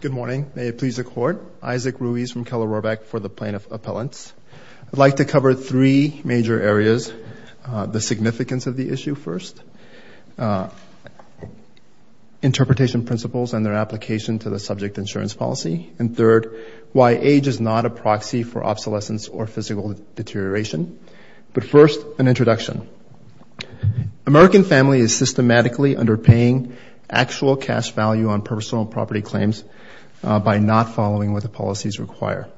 Good morning. May it please the Court. Isaac Ruiz from Keller-Rorbach for the Plaintiff Appellants. I'd like to cover three major areas. The significance of the issue first. Interpretation principles and their application to the subject insurance policy. And third, why age is not a proxy for obsolescence or physical deterioration. But first, an introduction. American family is systematically underpaying actual cash value on personal property claims by not following what the policies require.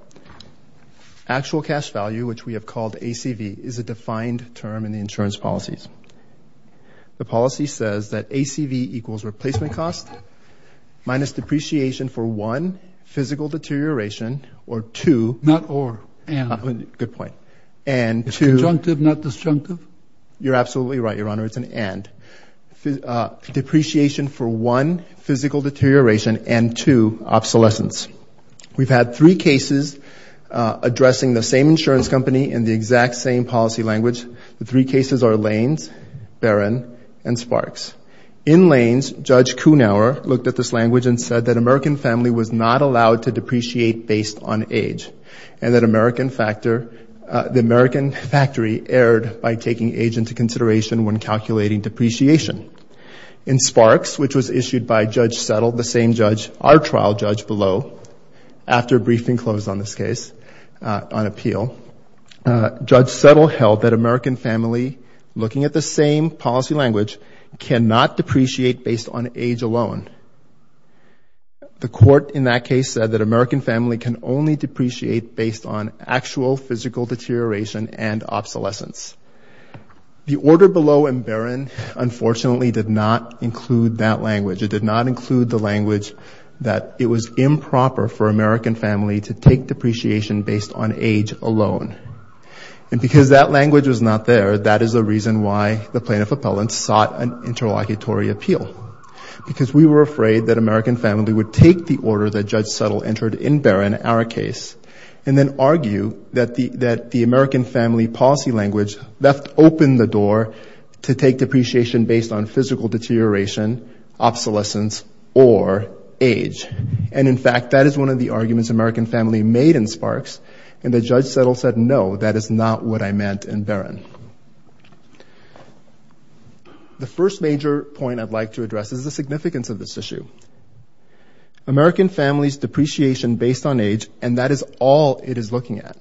Actual cash value, which we have called ACV, is a defined term in the insurance policies. The policy says that ACV equals replacement cost minus depreciation for one, physical deterioration, or two. Not or. And. Good point. It's conjunctive, not disjunctive? You're absolutely right, Your Honor. It's an and. Depreciation for one, physical deterioration, and two, obsolescence. We've had three cases addressing the same insurance company in the exact same policy language. The three cases are Lane's, Barron, and Sparks. In Lane's, Judge Kuhnauer looked at this language and said that American family was not allowed to depreciate based on age. And that American factor, the American factory erred by taking age into consideration when calculating depreciation. In Sparks, which was issued by Judge Settle, the same judge, our trial judge below, after briefing closed on this case, on appeal, Judge Settle held that American family, looking at the same policy language, cannot depreciate based on age alone. The court in that case said that American family can only depreciate based on actual physical deterioration and obsolescence. The order below in Barron, unfortunately, did not include that language. It did not include the language that it was improper for American family to take depreciation based on age alone. And because that language was not there, that is the reason why the plaintiff appellant sought an interlocutory appeal. Because we were afraid that American family would take the order that Judge Settle entered in Barron, our case, and then argue that the American family policy language left open the door to take depreciation based on physical deterioration, obsolescence, or age. And in fact, that is one of the arguments American family made in Sparks, and that Judge Settle said, no, that is not what I meant in Barron. The first major point I'd like to address is the significance of this issue. American family's depreciation based on age, and that is all it is looking at,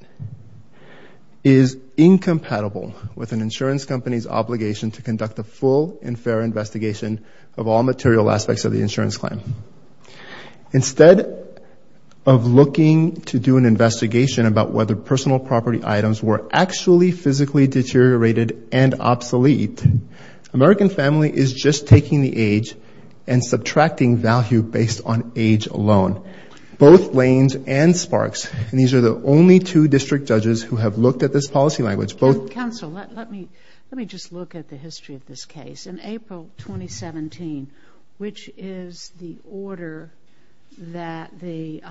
is incompatible with an insurance company's obligation to conduct a full and fair investigation of all material aspects of the insurance claim. Instead of looking to do an investigation about whether personal property items were actually physically deteriorated and obsolete, American family is just taking the age and subtracting value based on age alone. Both Blaines and Sparks, and these are the only two district judges who have looked at this policy language, both counsel. Let me let me just look at the history of this case. In April 2017, which is the time the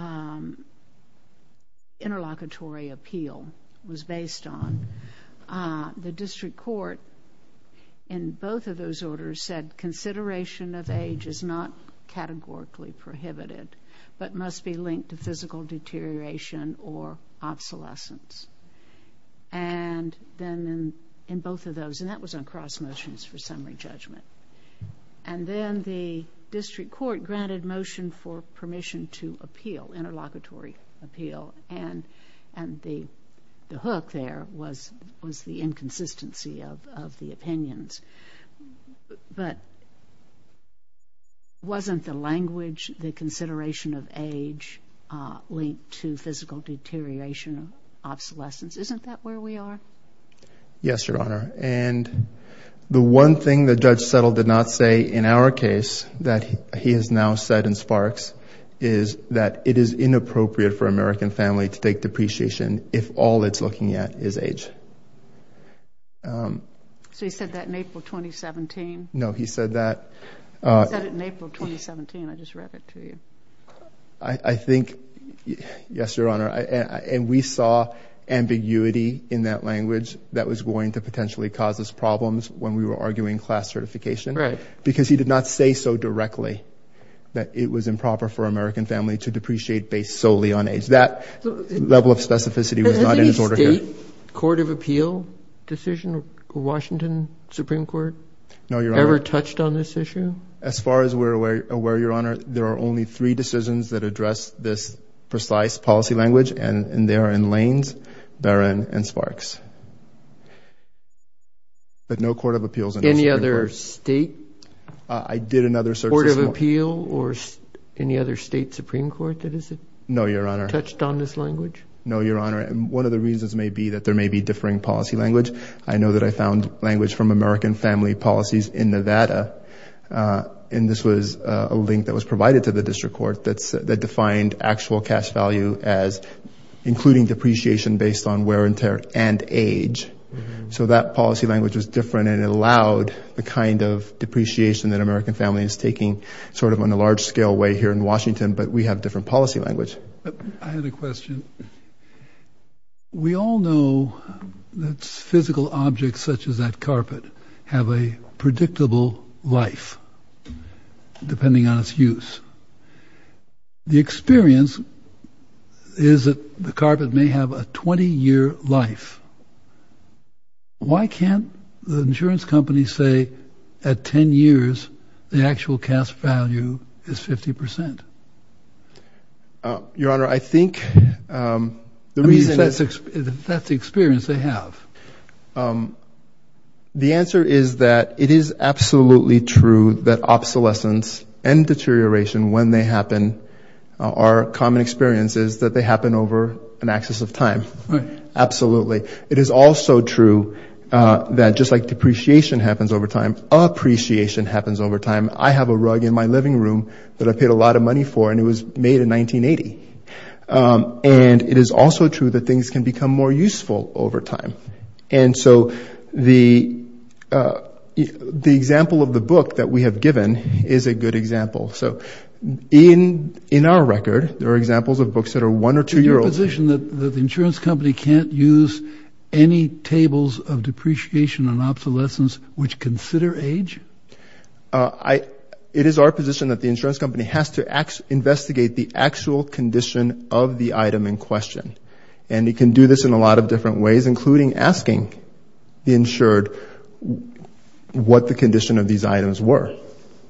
interlocutory appeal was based on, the district court in both of those orders said consideration of age is not categorically prohibited, but must be linked to physical deterioration or obsolescence. And then in both of those, and that was on cross motions for summary judgment. And then the district court granted motion for permission to appeal, interlocutory appeal, and the hook there was the inconsistency of the opinions. But wasn't the language, the consideration of age, linked to physical deterioration, obsolescence? Isn't that where we are? Yes, Your Honor. And the one thing that Judge Settle did not say in our case that he has now said in Sparks is that it is inappropriate for an American family to take depreciation if all it's looking at is age. So he said that in April 2017? No, he said that. He said it in April 2017. I just read it to you. I think, yes, Your Honor. And we saw ambiguity in that language that was going to potentially cause us problems when we were arguing class certification. Right. Because he did not say so directly that it was improper for an American family to depreciate based solely on age. That level of specificity was not in his order here. Has any state court of appeal decision, Washington Supreme Court, ever touched on this issue? As far as we're aware, Your Honor, there are only three decisions that address this precise policy language, and they are in Lanes, Barron, and Sparks. But no court of appeals in the Supreme Court. Has any other state court of appeal or any other state Supreme Court that has touched on this language? No, Your Honor. And one of the reasons may be that there may be differing policy language. I know that I found language from American Family Policies in Nevada, and this was a link that was provided to the district court that defined actual cash value as including depreciation based on wear and tear and age. So that policy language was different and allowed the kind of depreciation that American Family is taking sort of on a large scale way here in Washington, but we have different policy language. I have a question. We all know that physical objects such as that carpet have a predictable life depending on its use. The experience is that the carpet may have a 20-year life. Why can't the insurance company say at 10 years the actual cash value is 50%? Your Honor, I think the reason that's the experience they have. The answer is that it is absolutely true that obsolescence and deterioration when they happen are common experiences that they happen over an axis of time. Absolutely. It is also true that just like depreciation happens over time, appreciation happens over time. I have a rug in my living room that I paid a lot of money for and it was made in 1980. And it is also true that things can become more useful over time. And so the example of the book that we have given is a good example. So in our record, there are examples of books that are one or two-year-olds. Are you in a position that the insurance company can't use any tables of depreciation and obsolescence which consider age? It is our position that the insurance company has to investigate the actual condition of the item in question. And it can do this in a lot of different ways, including asking the insured what the condition of these items were.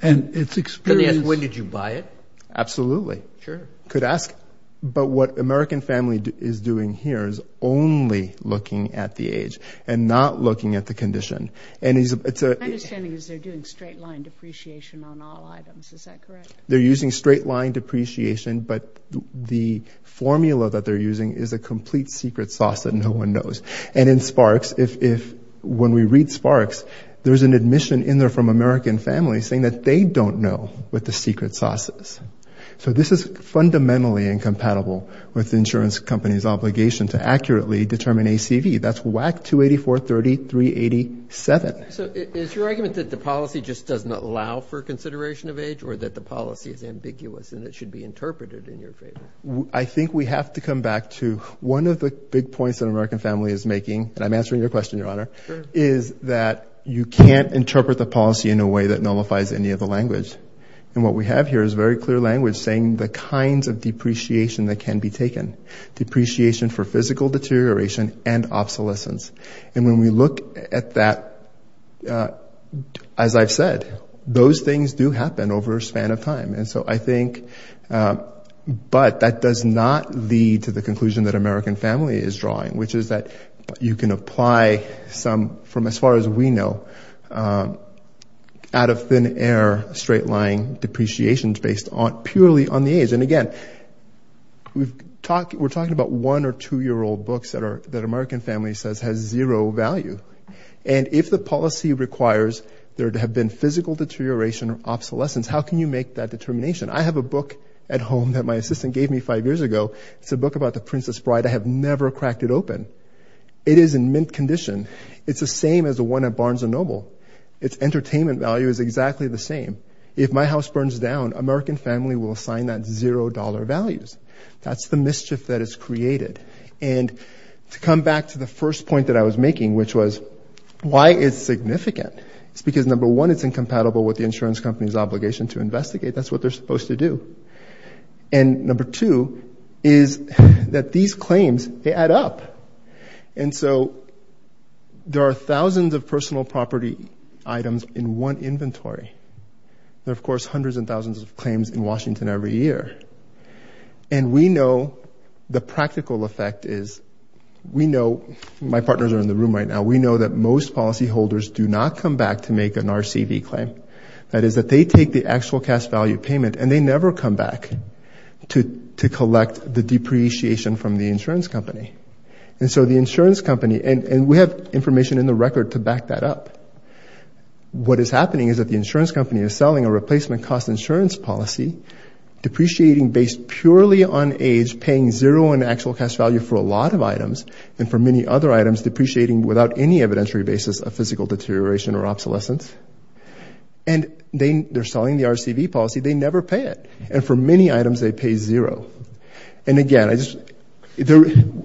Can they ask when did you buy it? Absolutely. They could ask. But what American Family is doing here is only looking at the age and not looking at the condition. My understanding is they are doing straight-line depreciation on all items. Is that correct? They are using straight-line depreciation, but the formula that they are using is a complete secret sauce that no one knows. And in Sparks, when we read Sparks, there is an admission in there from American Family saying that they don't know what the secret sauce is. So this is fundamentally incompatible with the insurance company's obligation to accurately determine ACV. That's WAC 284-30-387. So is your argument that the policy just does not allow for consideration of age or that the policy is ambiguous and it should be interpreted in your favor? I think we have to come back to one of the big points that American Family is making, and I'm answering your question, Your Honor, is that you can't interpret the policy in a way that nullifies any of the language. And what we have here is very clear language saying the kinds of depreciation that can be taken. Depreciation for physical deterioration and obsolescence. And when we look at that, as I've said, those things do happen over a span of time. And so I think, but that does not lead to the conclusion that American Family is drawing, which is that you can apply some, from as far as we know, out of thin air, straight line depreciations based purely on the age. And again, we're talking about one or two year old books that American Family says has zero value. And if the policy requires there to have been physical deterioration or obsolescence, how can you make that determination? I have a book at home that my assistant gave me five years ago. It's a book about the Princess and I cracked it open. It is in mint condition. It's the same as the one at Barnes and Noble. Its entertainment value is exactly the same. If my house burns down, American Family will assign that zero dollar values. That's the mischief that is created. And to come back to the first point that I was making, which was why it's significant, it's because number one it's incompatible with the insurance company's obligation to investigate. That's what they're set up. And so there are thousands of personal property items in one inventory. There are of course hundreds and thousands of claims in Washington every year. And we know the practical effect is, we know, my partners are in the room right now, we know that most policy holders do not come back to make an RCV claim. That is that they take the actual cash value payment and they never come back to collect the depreciation from the insurance company. And so the insurance company, and we have information in the record to back that up, what is happening is that the insurance company is selling a replacement cost insurance policy depreciating based purely on age, paying zero in actual cash value for a lot of items and for many other items depreciating without any evidentiary basis of physical deterioration or obsolescence. And they're selling the RCV policy, they never pay it. And for many items they pay zero. And again, I just,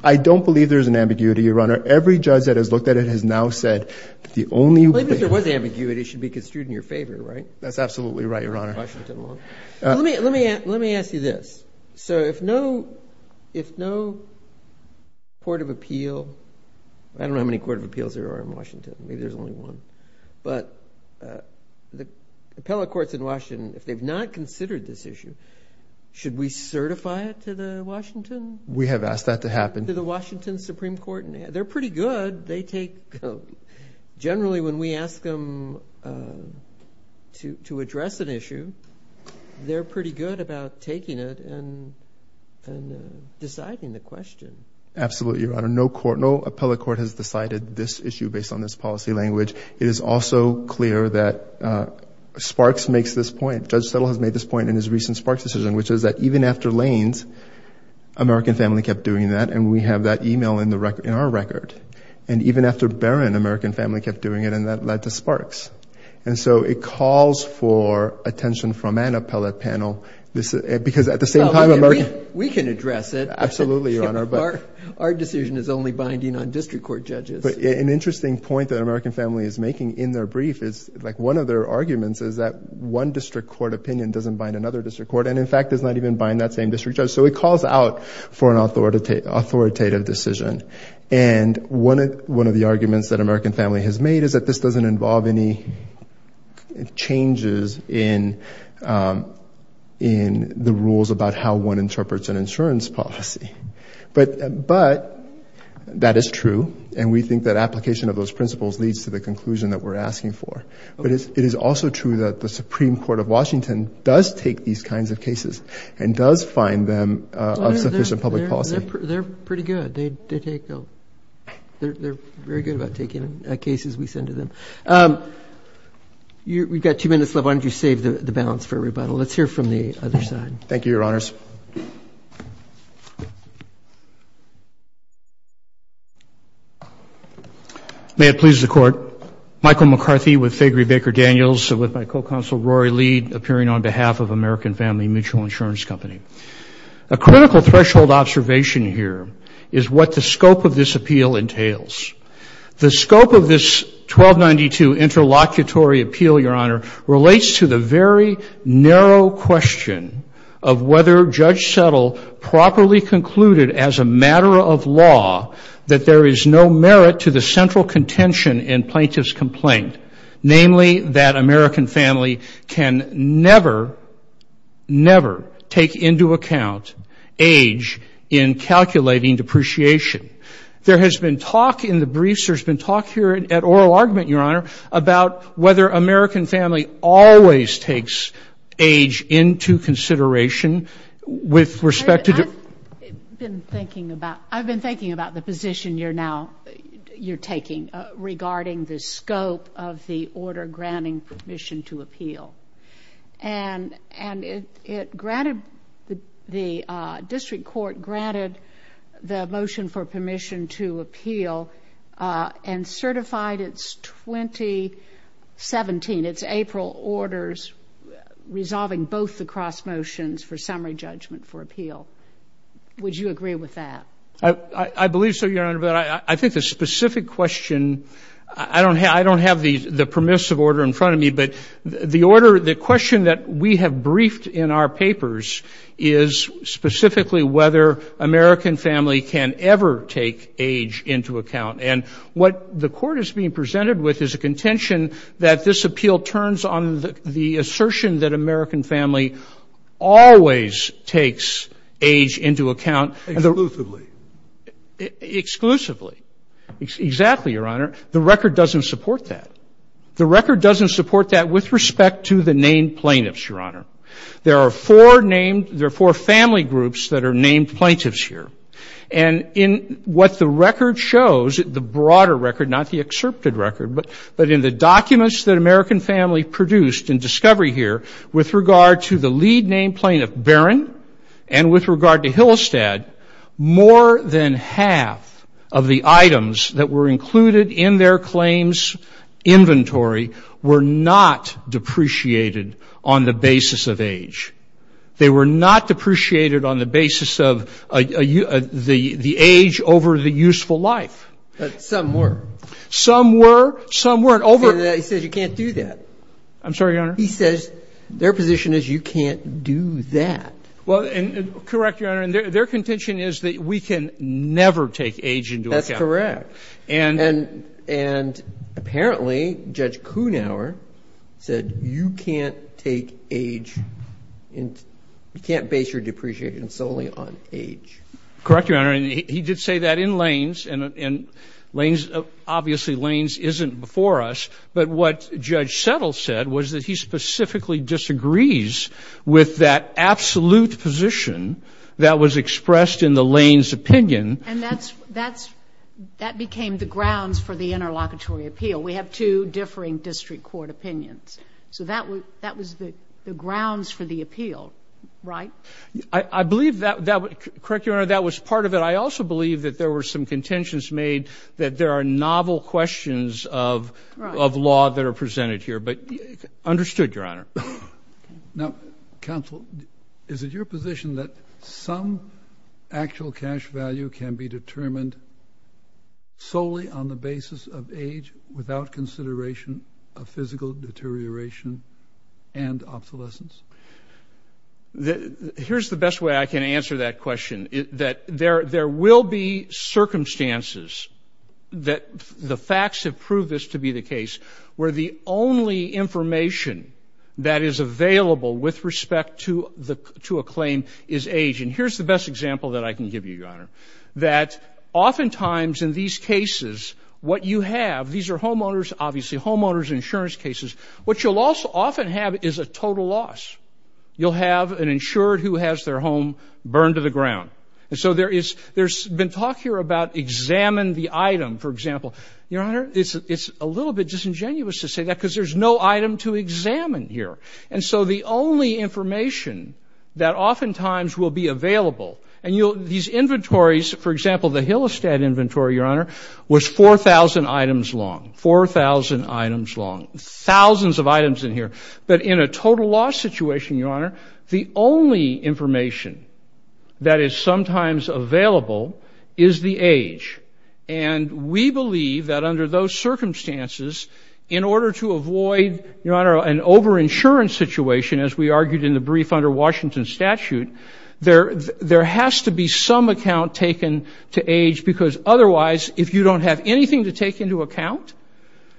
I don't believe there's an ambiguity, Your Honor. Every judge that has looked at it has now said that the only way- Well even if there was ambiguity, it should be construed in your favor, right? That's absolutely right, Your Honor. Washington law. Let me ask you this. So if no court of appeal, I don't know how many court of appeals there are in Washington, maybe there's only one, but the appellate courts in Washington, if they've not considered this issue, should we certify it to the Washington? We have asked that to happen. To the Washington Supreme Court? They're pretty good. They take, generally when we ask them to address an issue, they're pretty good about taking it and deciding the question. Absolutely, Your Honor. No court, no appellate court has decided this issue based on this Judge Settle has made this point in his recent Sparks decision, which is that even after Lanes, American Family kept doing that, and we have that email in our record. And even after Barron, American Family kept doing it, and that led to Sparks. And so it calls for attention from an appellate panel, because at the same time- We can address it. Absolutely, Your Honor, but- Our decision is only binding on district court judges. But an interesting point that American Family is making in their brief is, like one of their district court opinion doesn't bind another district court, and in fact, does not even bind that same district judge. So it calls out for an authoritative decision. And one of the arguments that American Family has made is that this doesn't involve any changes in the rules about how one interprets an insurance policy. But that is true, and we think that application of those principles leads to the conclusion that we're asking for. But it is also true that the Supreme Court of Washington does take these kinds of cases and does find them of sufficient public policy. They're pretty good. They take- They're very good about taking cases we send to them. We've got two minutes left. Why don't you save the balance for rebuttal? Let's hear from the other side. Thank you, Your Honors. May it please the Court. Michael McCarthy with Faigree Baker Daniels, with my co-counsel Rory Lead, appearing on behalf of American Family Mutual Insurance Company. A critical threshold observation here is what the scope of this appeal entails. The scope of this 1292 interlocutory appeal, Your Honor, relates to the very narrow question of whether Judge Settle properly concluded as a matter of law that there is no merit to the central contention in plaintiff's complaint, namely that American family can never, never take into account age in calculating depreciation. There has been talk in the briefs, there's been talk here at oral argument, Your Honor, about whether American family always takes age into consideration with respect to- I've been thinking about the position you're now- you're taking regarding the scope of the order granting permission to appeal. And it granted- the district court granted the motion for permission to appeal and certified its 2017, its April orders, resolving both the cross motions for summary judgment for appeal. Would you agree with that? I believe so, Your Honor, but I think the specific question- I don't have the permissive order in front of me, but the order- the question that we have briefed in our papers is specifically whether American family can ever take age into account. And what the court is being presented with is a contention that this appeal turns on the assertion that American family always takes age into account- Exclusively. Exclusively. Exactly, Your Honor. The record doesn't support that. The record doesn't support that with respect to the named plaintiffs, Your Honor. There are four named- there are named plaintiffs here. And in what the record shows, the broader record, not the excerpted record, but in the documents that American family produced in discovery here with regard to the lead named plaintiff, Barron, and with regard to Hillestad, more than half of the items that were included in their claims inventory were not depreciated on the basis of age. They were not depreciated on the basis of the age over the useful life. But some were. Some were. Some weren't. Over- He says you can't do that. I'm sorry, Your Honor? He says their position is you can't do that. Well, and correct, Your Honor. And their contention is that we can never take age into account. That's correct. And- And apparently, Judge Kuhnhauer said you can't take age- you can't base your depreciation solely on age. Correct, Your Honor. And he did say that in Lanes. And Lanes- obviously, Lanes isn't before us. But what Judge Settle said was that he specifically disagrees with that absolute position that was expressed in the Lanes opinion. And that's- that became the grounds for the interlocutory appeal. We have two differing district court opinions. So that was the grounds for the appeal, right? I believe that- correct, Your Honor, that was part of it. I also believe that there were some contentions made that there are novel questions of law that are presented here. But understood, Your Honor. Now, counsel, is it your position that some actual cash value can be determined solely on the basis of age without consideration of physical deterioration and obsolescence? Here's the best way I can answer that question, that there will be circumstances that the only information that is available with respect to the- to a claim is age. And here's the best example that I can give you, Your Honor, that oftentimes in these cases, what you have- these are homeowners, obviously, homeowners insurance cases. What you'll also often have is a total loss. You'll have an insured who has their home burned to the ground. So there is- there's been talk here about examine the item, for example. Your Honor, it's a little bit disingenuous to say that because there's no item to examine here. And so the only information that oftentimes will be available- and you'll- these inventories, for example, the Hillestead inventory, Your Honor, was 4,000 items long. 4,000 items long. Thousands of items in here. But in a total loss situation, Your Honor, the only information that is sometimes available is the age. And we believe that under those circumstances, in order to avoid, Your Honor, an over-insurance situation, as we argued in the brief under Washington statute, there- there has to be some account taken to age because otherwise, if you don't have anything to take into account,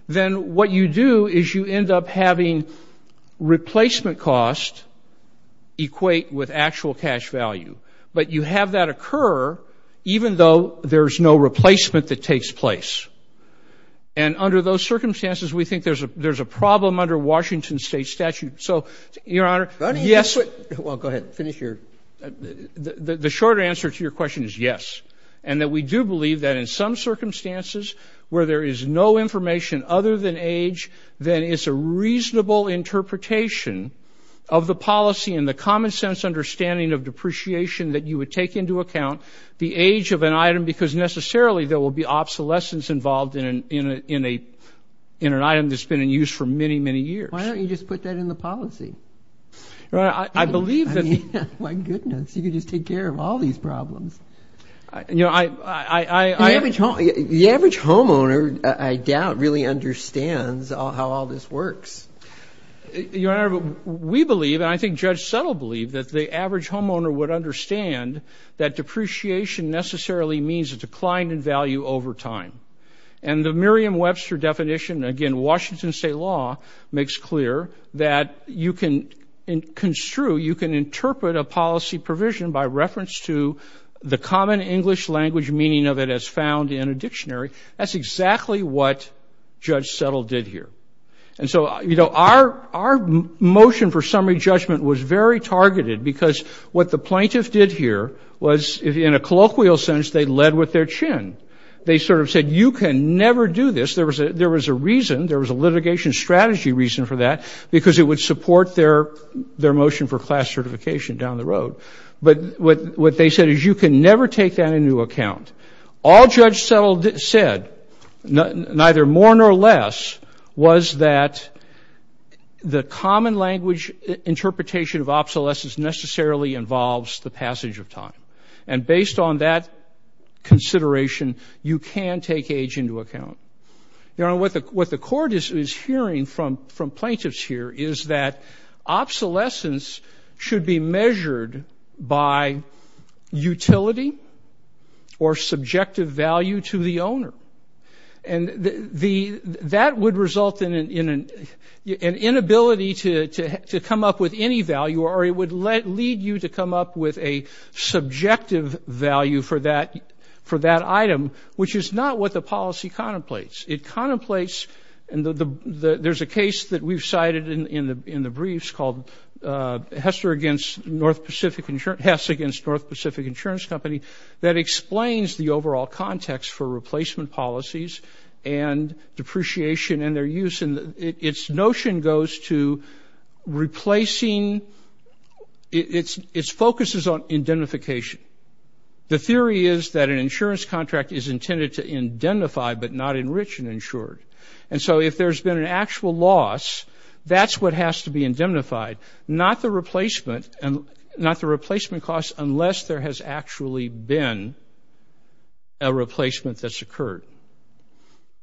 then what you do is you end up having replacement cost equate with actual cash value. But you have that occur even though there's no replacement that takes place. And under those circumstances, we think there's a- there's a problem under Washington state statute. So, Your Honor, yes- Go ahead. Finish your- The short answer to your question is yes. And that we do believe that in some circumstances where there is no information other than age, then it's a reasonable interpretation of the policy and the common sense understanding of depreciation that you would take into account the age of an item because necessarily there will be obsolescence involved in an- in a- in an item that's been in use for many, many years. Why don't you just put that in the policy? Your Honor, I believe that- My goodness. You could just take care of all these problems. You know, I- I- I- I- The average home- the average homeowner, I doubt, really understands how all this works. Your Honor, we believe, and I think Judge Settle believed, that the average homeowner would understand that depreciation necessarily means a decline in value over time. And the Merriam-Webster definition, again, Washington state law, makes clear that you can construe- you can interpret a policy provision by reference to the common English language meaning of it as found in a dictionary. That's exactly what Judge Settle did here. And so, you know, our- our motion for summary judgment was very targeted because what the plaintiff did here was, in a colloquial sense, they led with their chin. They sort of said, you can never do this. There was a- there was a reason, there was a litigation strategy reason for that, because it would support their- their motion for class certification down the road. But what- what they said is, you can never take that into account. All Judge Settle did- said, neither more nor less, was that the common language interpretation of obsolescence necessarily involves the passage of time. And based on that consideration, you can take age into account. Your Honor, what the- what the court is- is hearing from- from plaintiffs here is that obsolescence should be measured by utility or subjective value to the owner. And the- that would result in an inability to- to come up with any value or it would lead you to come up with a subjective value for that- for that item, which is not what the case that we've cited in- in the- in the briefs called Hester against North Pacific Insurance- Hess against North Pacific Insurance Company, that explains the overall context for replacement policies and depreciation and their use. And its notion goes to replacing- its- its focus is on identification. The theory is that an insurance contract is intended to identify but not enrich insured. And so if there's been an actual loss, that's what has to be indemnified, not the replacement and- not the replacement cost unless there has actually been a replacement that's occurred.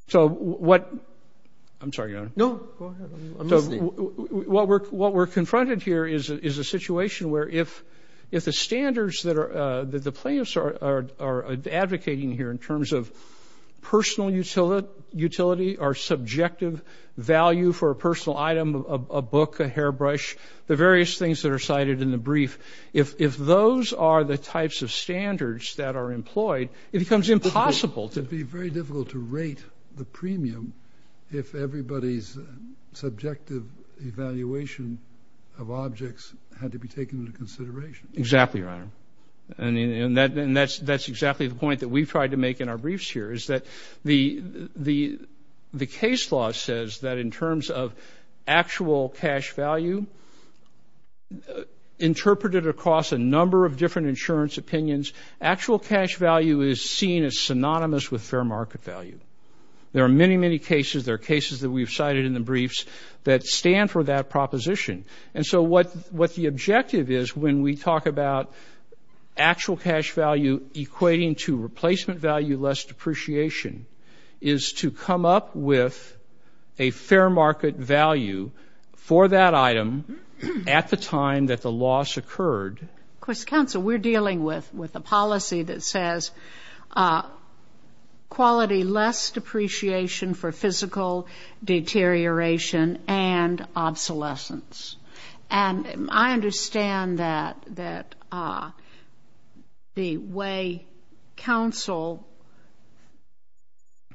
So what- I'm sorry, Your Honor. What we're- what we're confronted here is- is a situation where if- if the standards that are- that the plaintiffs are- are advocating here in terms of utility or subjective value for a personal item, a book, a hairbrush, the various things that are cited in the brief, if- if those are the types of standards that are employed, it becomes impossible to- It'd be very difficult to rate the premium if everybody's subjective evaluation of objects had to be taken into consideration. Exactly, Your Honor. And- and that- and that's- that's exactly the case law says that in terms of actual cash value, interpreted across a number of different insurance opinions, actual cash value is seen as synonymous with fair market value. There are many, many cases, there are cases that we've cited in the briefs that stand for that proposition. And so what- what the objective is when we talk about actual cash value equating to replacement value less depreciation is to come up with a fair market value for that item at the time that the loss occurred. Of course, counsel, we're dealing with- with a policy that says quality less depreciation for physical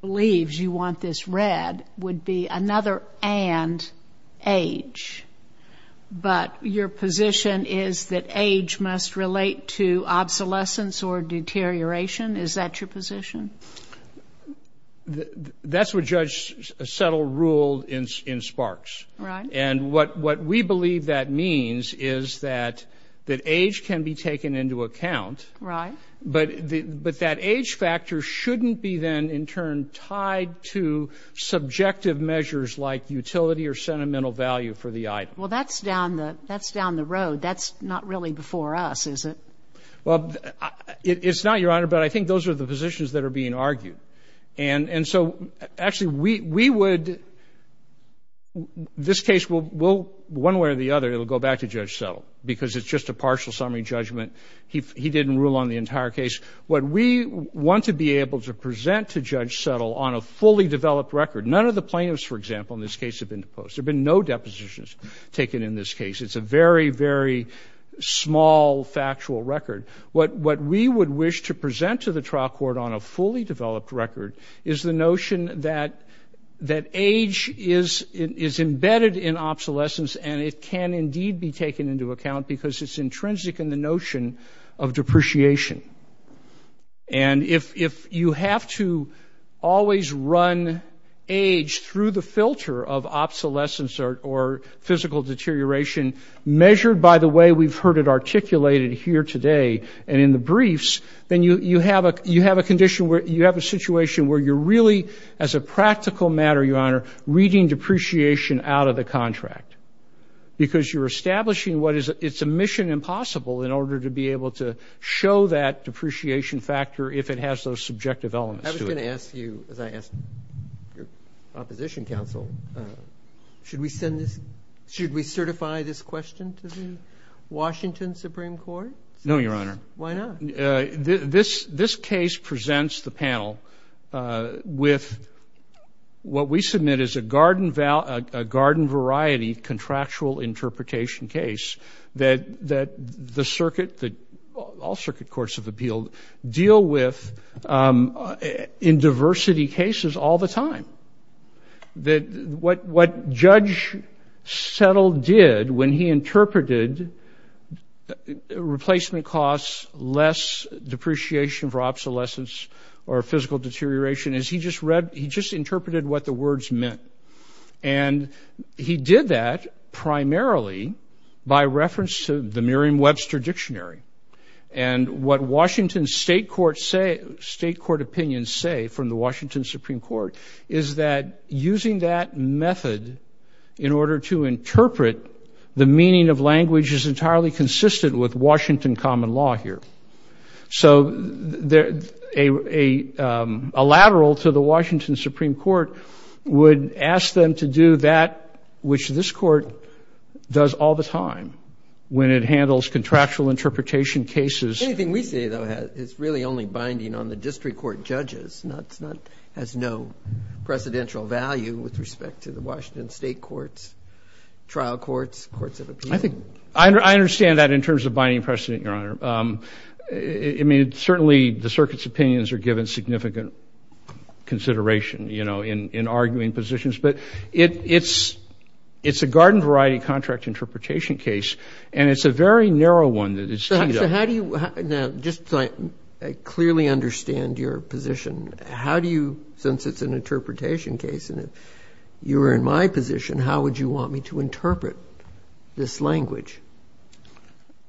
believes you want this red would be another and age. But your position is that age must relate to obsolescence or deterioration? Is that your position? That's what Judge Settle ruled in- in Sparks. Right. And what- what we believe that means is that- that age can be taken into account. Right. But- but that age factor shouldn't be then in turn tied to subjective measures like utility or sentimental value for the item. Well, that's down the- that's down the road. That's not really before us, is it? Well, it- it's not, Your Honor, but I think those are the positions that are being argued. And- and so actually, we- we would- this case will- will one way or the other, it'll go back to Judge Settle because it's just a partial summary judgment. He- he didn't rule on the entire case. What we want to be able to present to Judge Settle on a fully developed record, none of the plaintiffs, for example, in this case have been deposed. There have been no depositions taken in this case. It's a very, very small factual record. What- what we would wish to present to the trial court on a fully developed record is the notion that- that age is- is embedded in obsolescence, and it can indeed be taken into account because it's intrinsic in the notion of depreciation. And if- if you have to always run age through the filter of obsolescence or- or physical deterioration measured by the way we've heard it articulated here today and in the briefs, then you- you have a- reading depreciation out of the contract because you're establishing what is- it's a mission impossible in order to be able to show that depreciation factor if it has those subjective elements to it. I was going to ask you, as I asked your opposition counsel, should we send this- should we certify this question to the Washington Supreme Court? No, Your Honor. Why not? This- this case presents the panel with what we submit as a garden- a garden variety contractual interpretation case that- that the circuit- that all circuit courts of appeal deal with in diversity cases all the time. That what- what Judge Settle did when he interpreted replacement costs less depreciation for obsolescence or physical deterioration is he just read- he just interpreted what the words meant. And he did that primarily by reference to the Merriam-Webster Dictionary. And what Washington state courts say- state court opinions say from the Washington Supreme Court is that using that method in order to interpret the meaning of language is entirely consistent with Washington common law here. So there- a- a lateral to the Washington Supreme Court would ask them to do that which this court does all the time when it handles contractual interpretation cases. Anything we say though has- is really only binding on the district court judges. Not- not- has no precedential value with respect to the Washington state courts, trial courts, courts of appeal. I think- I under- I understand that in terms of binding precedent, Your Honor. I- I mean, certainly the circuit's opinions are given significant consideration, you know, in- in arguing positions. But it- it's- it's a garden variety contract interpretation case. And it's a very narrow one that is tied up. So how do you- now, just so I clearly understand your position, how do you- since it's an interpretation case and you were in my position, how would you want me to interpret this language?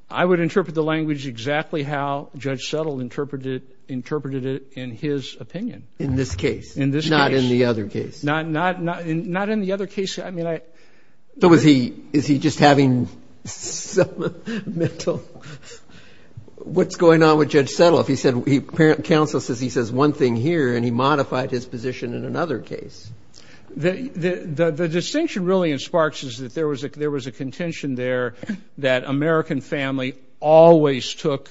I would interpret the language exactly how Judge Settle interpreted- interpreted it in his opinion. In this case. In this case. Not in the other case. Not- not- not in- not in the other case. I mean, I- So was he- is he just having some mental- what's going on with Judge Settle? If he said- he- counsel says he says one thing here and he modified his position in another case. The- the- the distinction really in Sparks is that there was a- there was a contention there that American family always took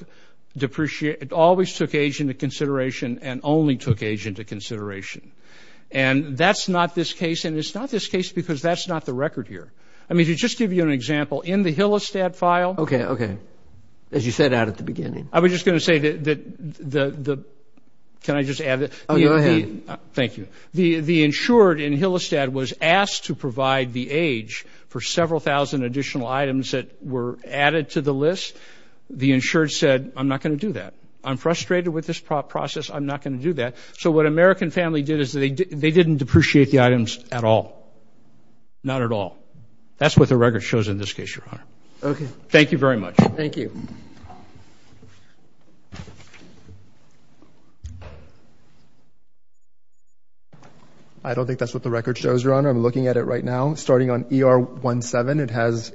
depreciate- always took age into consideration and only took age into consideration. And that's not this case and it's not this case because that's not the record here. I mean, to just give you an example, in the Hillestad file- Okay, okay. As you set out at the beginning. I was just going to say that- that- the- the- can I just add that- Oh, go ahead. Thank you. The- the insured in Hillestad was asked to provide the age for several thousand additional items that were added to the list. The insured said, I'm not going to do that. I'm frustrated with this process. I'm not going to do that. So what American family did is they- they didn't depreciate the items at all. Not at all. That's what the record shows in this case, Your Honor. Okay. Thank you very much. Thank you. I don't think that's what the record shows, Your Honor. I'm looking at it right now. Starting on ER 17, it has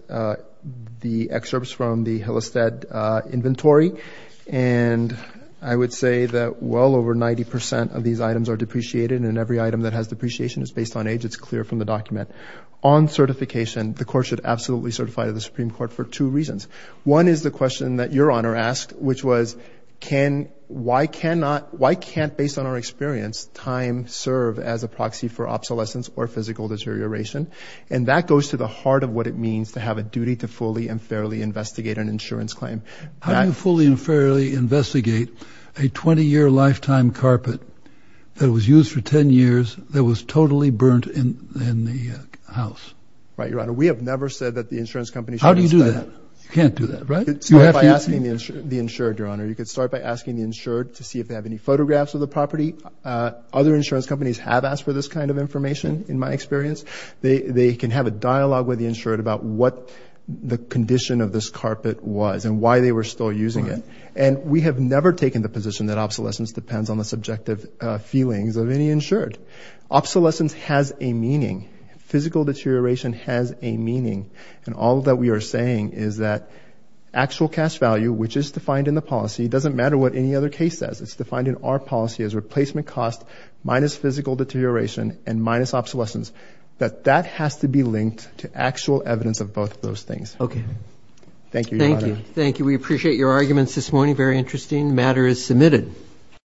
the excerpts from the Hillestad inventory. And I would say that well over 90% of these items are depreciated. And every item that has depreciation is based on age. It's clear from the document. On certification, the court should absolutely certify to the Supreme Court for two reasons. One is the question that Your Honor asked, which was, can- why cannot- why can't, based on our experience, time serve as a proxy for obsolescence or physical deterioration? And that goes to the heart of what it means to have a duty to fully and fairly investigate an insurance claim. How do you fully and fairly investigate a 20-year lifetime carpet that was used for 10 years that was totally burnt in the house? Right, Your Honor. We have never said that the insurance companies- How do you do that? You can't do that, right? Start by asking the insured, Your Honor. You could start by asking the insured to see if they have any photographs of the property. Other insurance companies have asked for this kind of information, in my experience. They can have a dialogue with the insured about what the condition of this carpet was and why they were still using it. And we have never taken the position that obsolescence depends on the subjective feelings of any insured. Obsolescence has a meaning. Physical deterioration has a meaning. And all that we are saying is that actual cash value, which is defined in the policy, doesn't matter what any other case says. It's defined in our policy as replacement cost minus physical deterioration and minus obsolescence. That that has to be linked to actual evidence of both of those things. Okay. Thank you, Your Honor. Thank you. We appreciate your arguments this morning. Very interesting. The matter is submitted.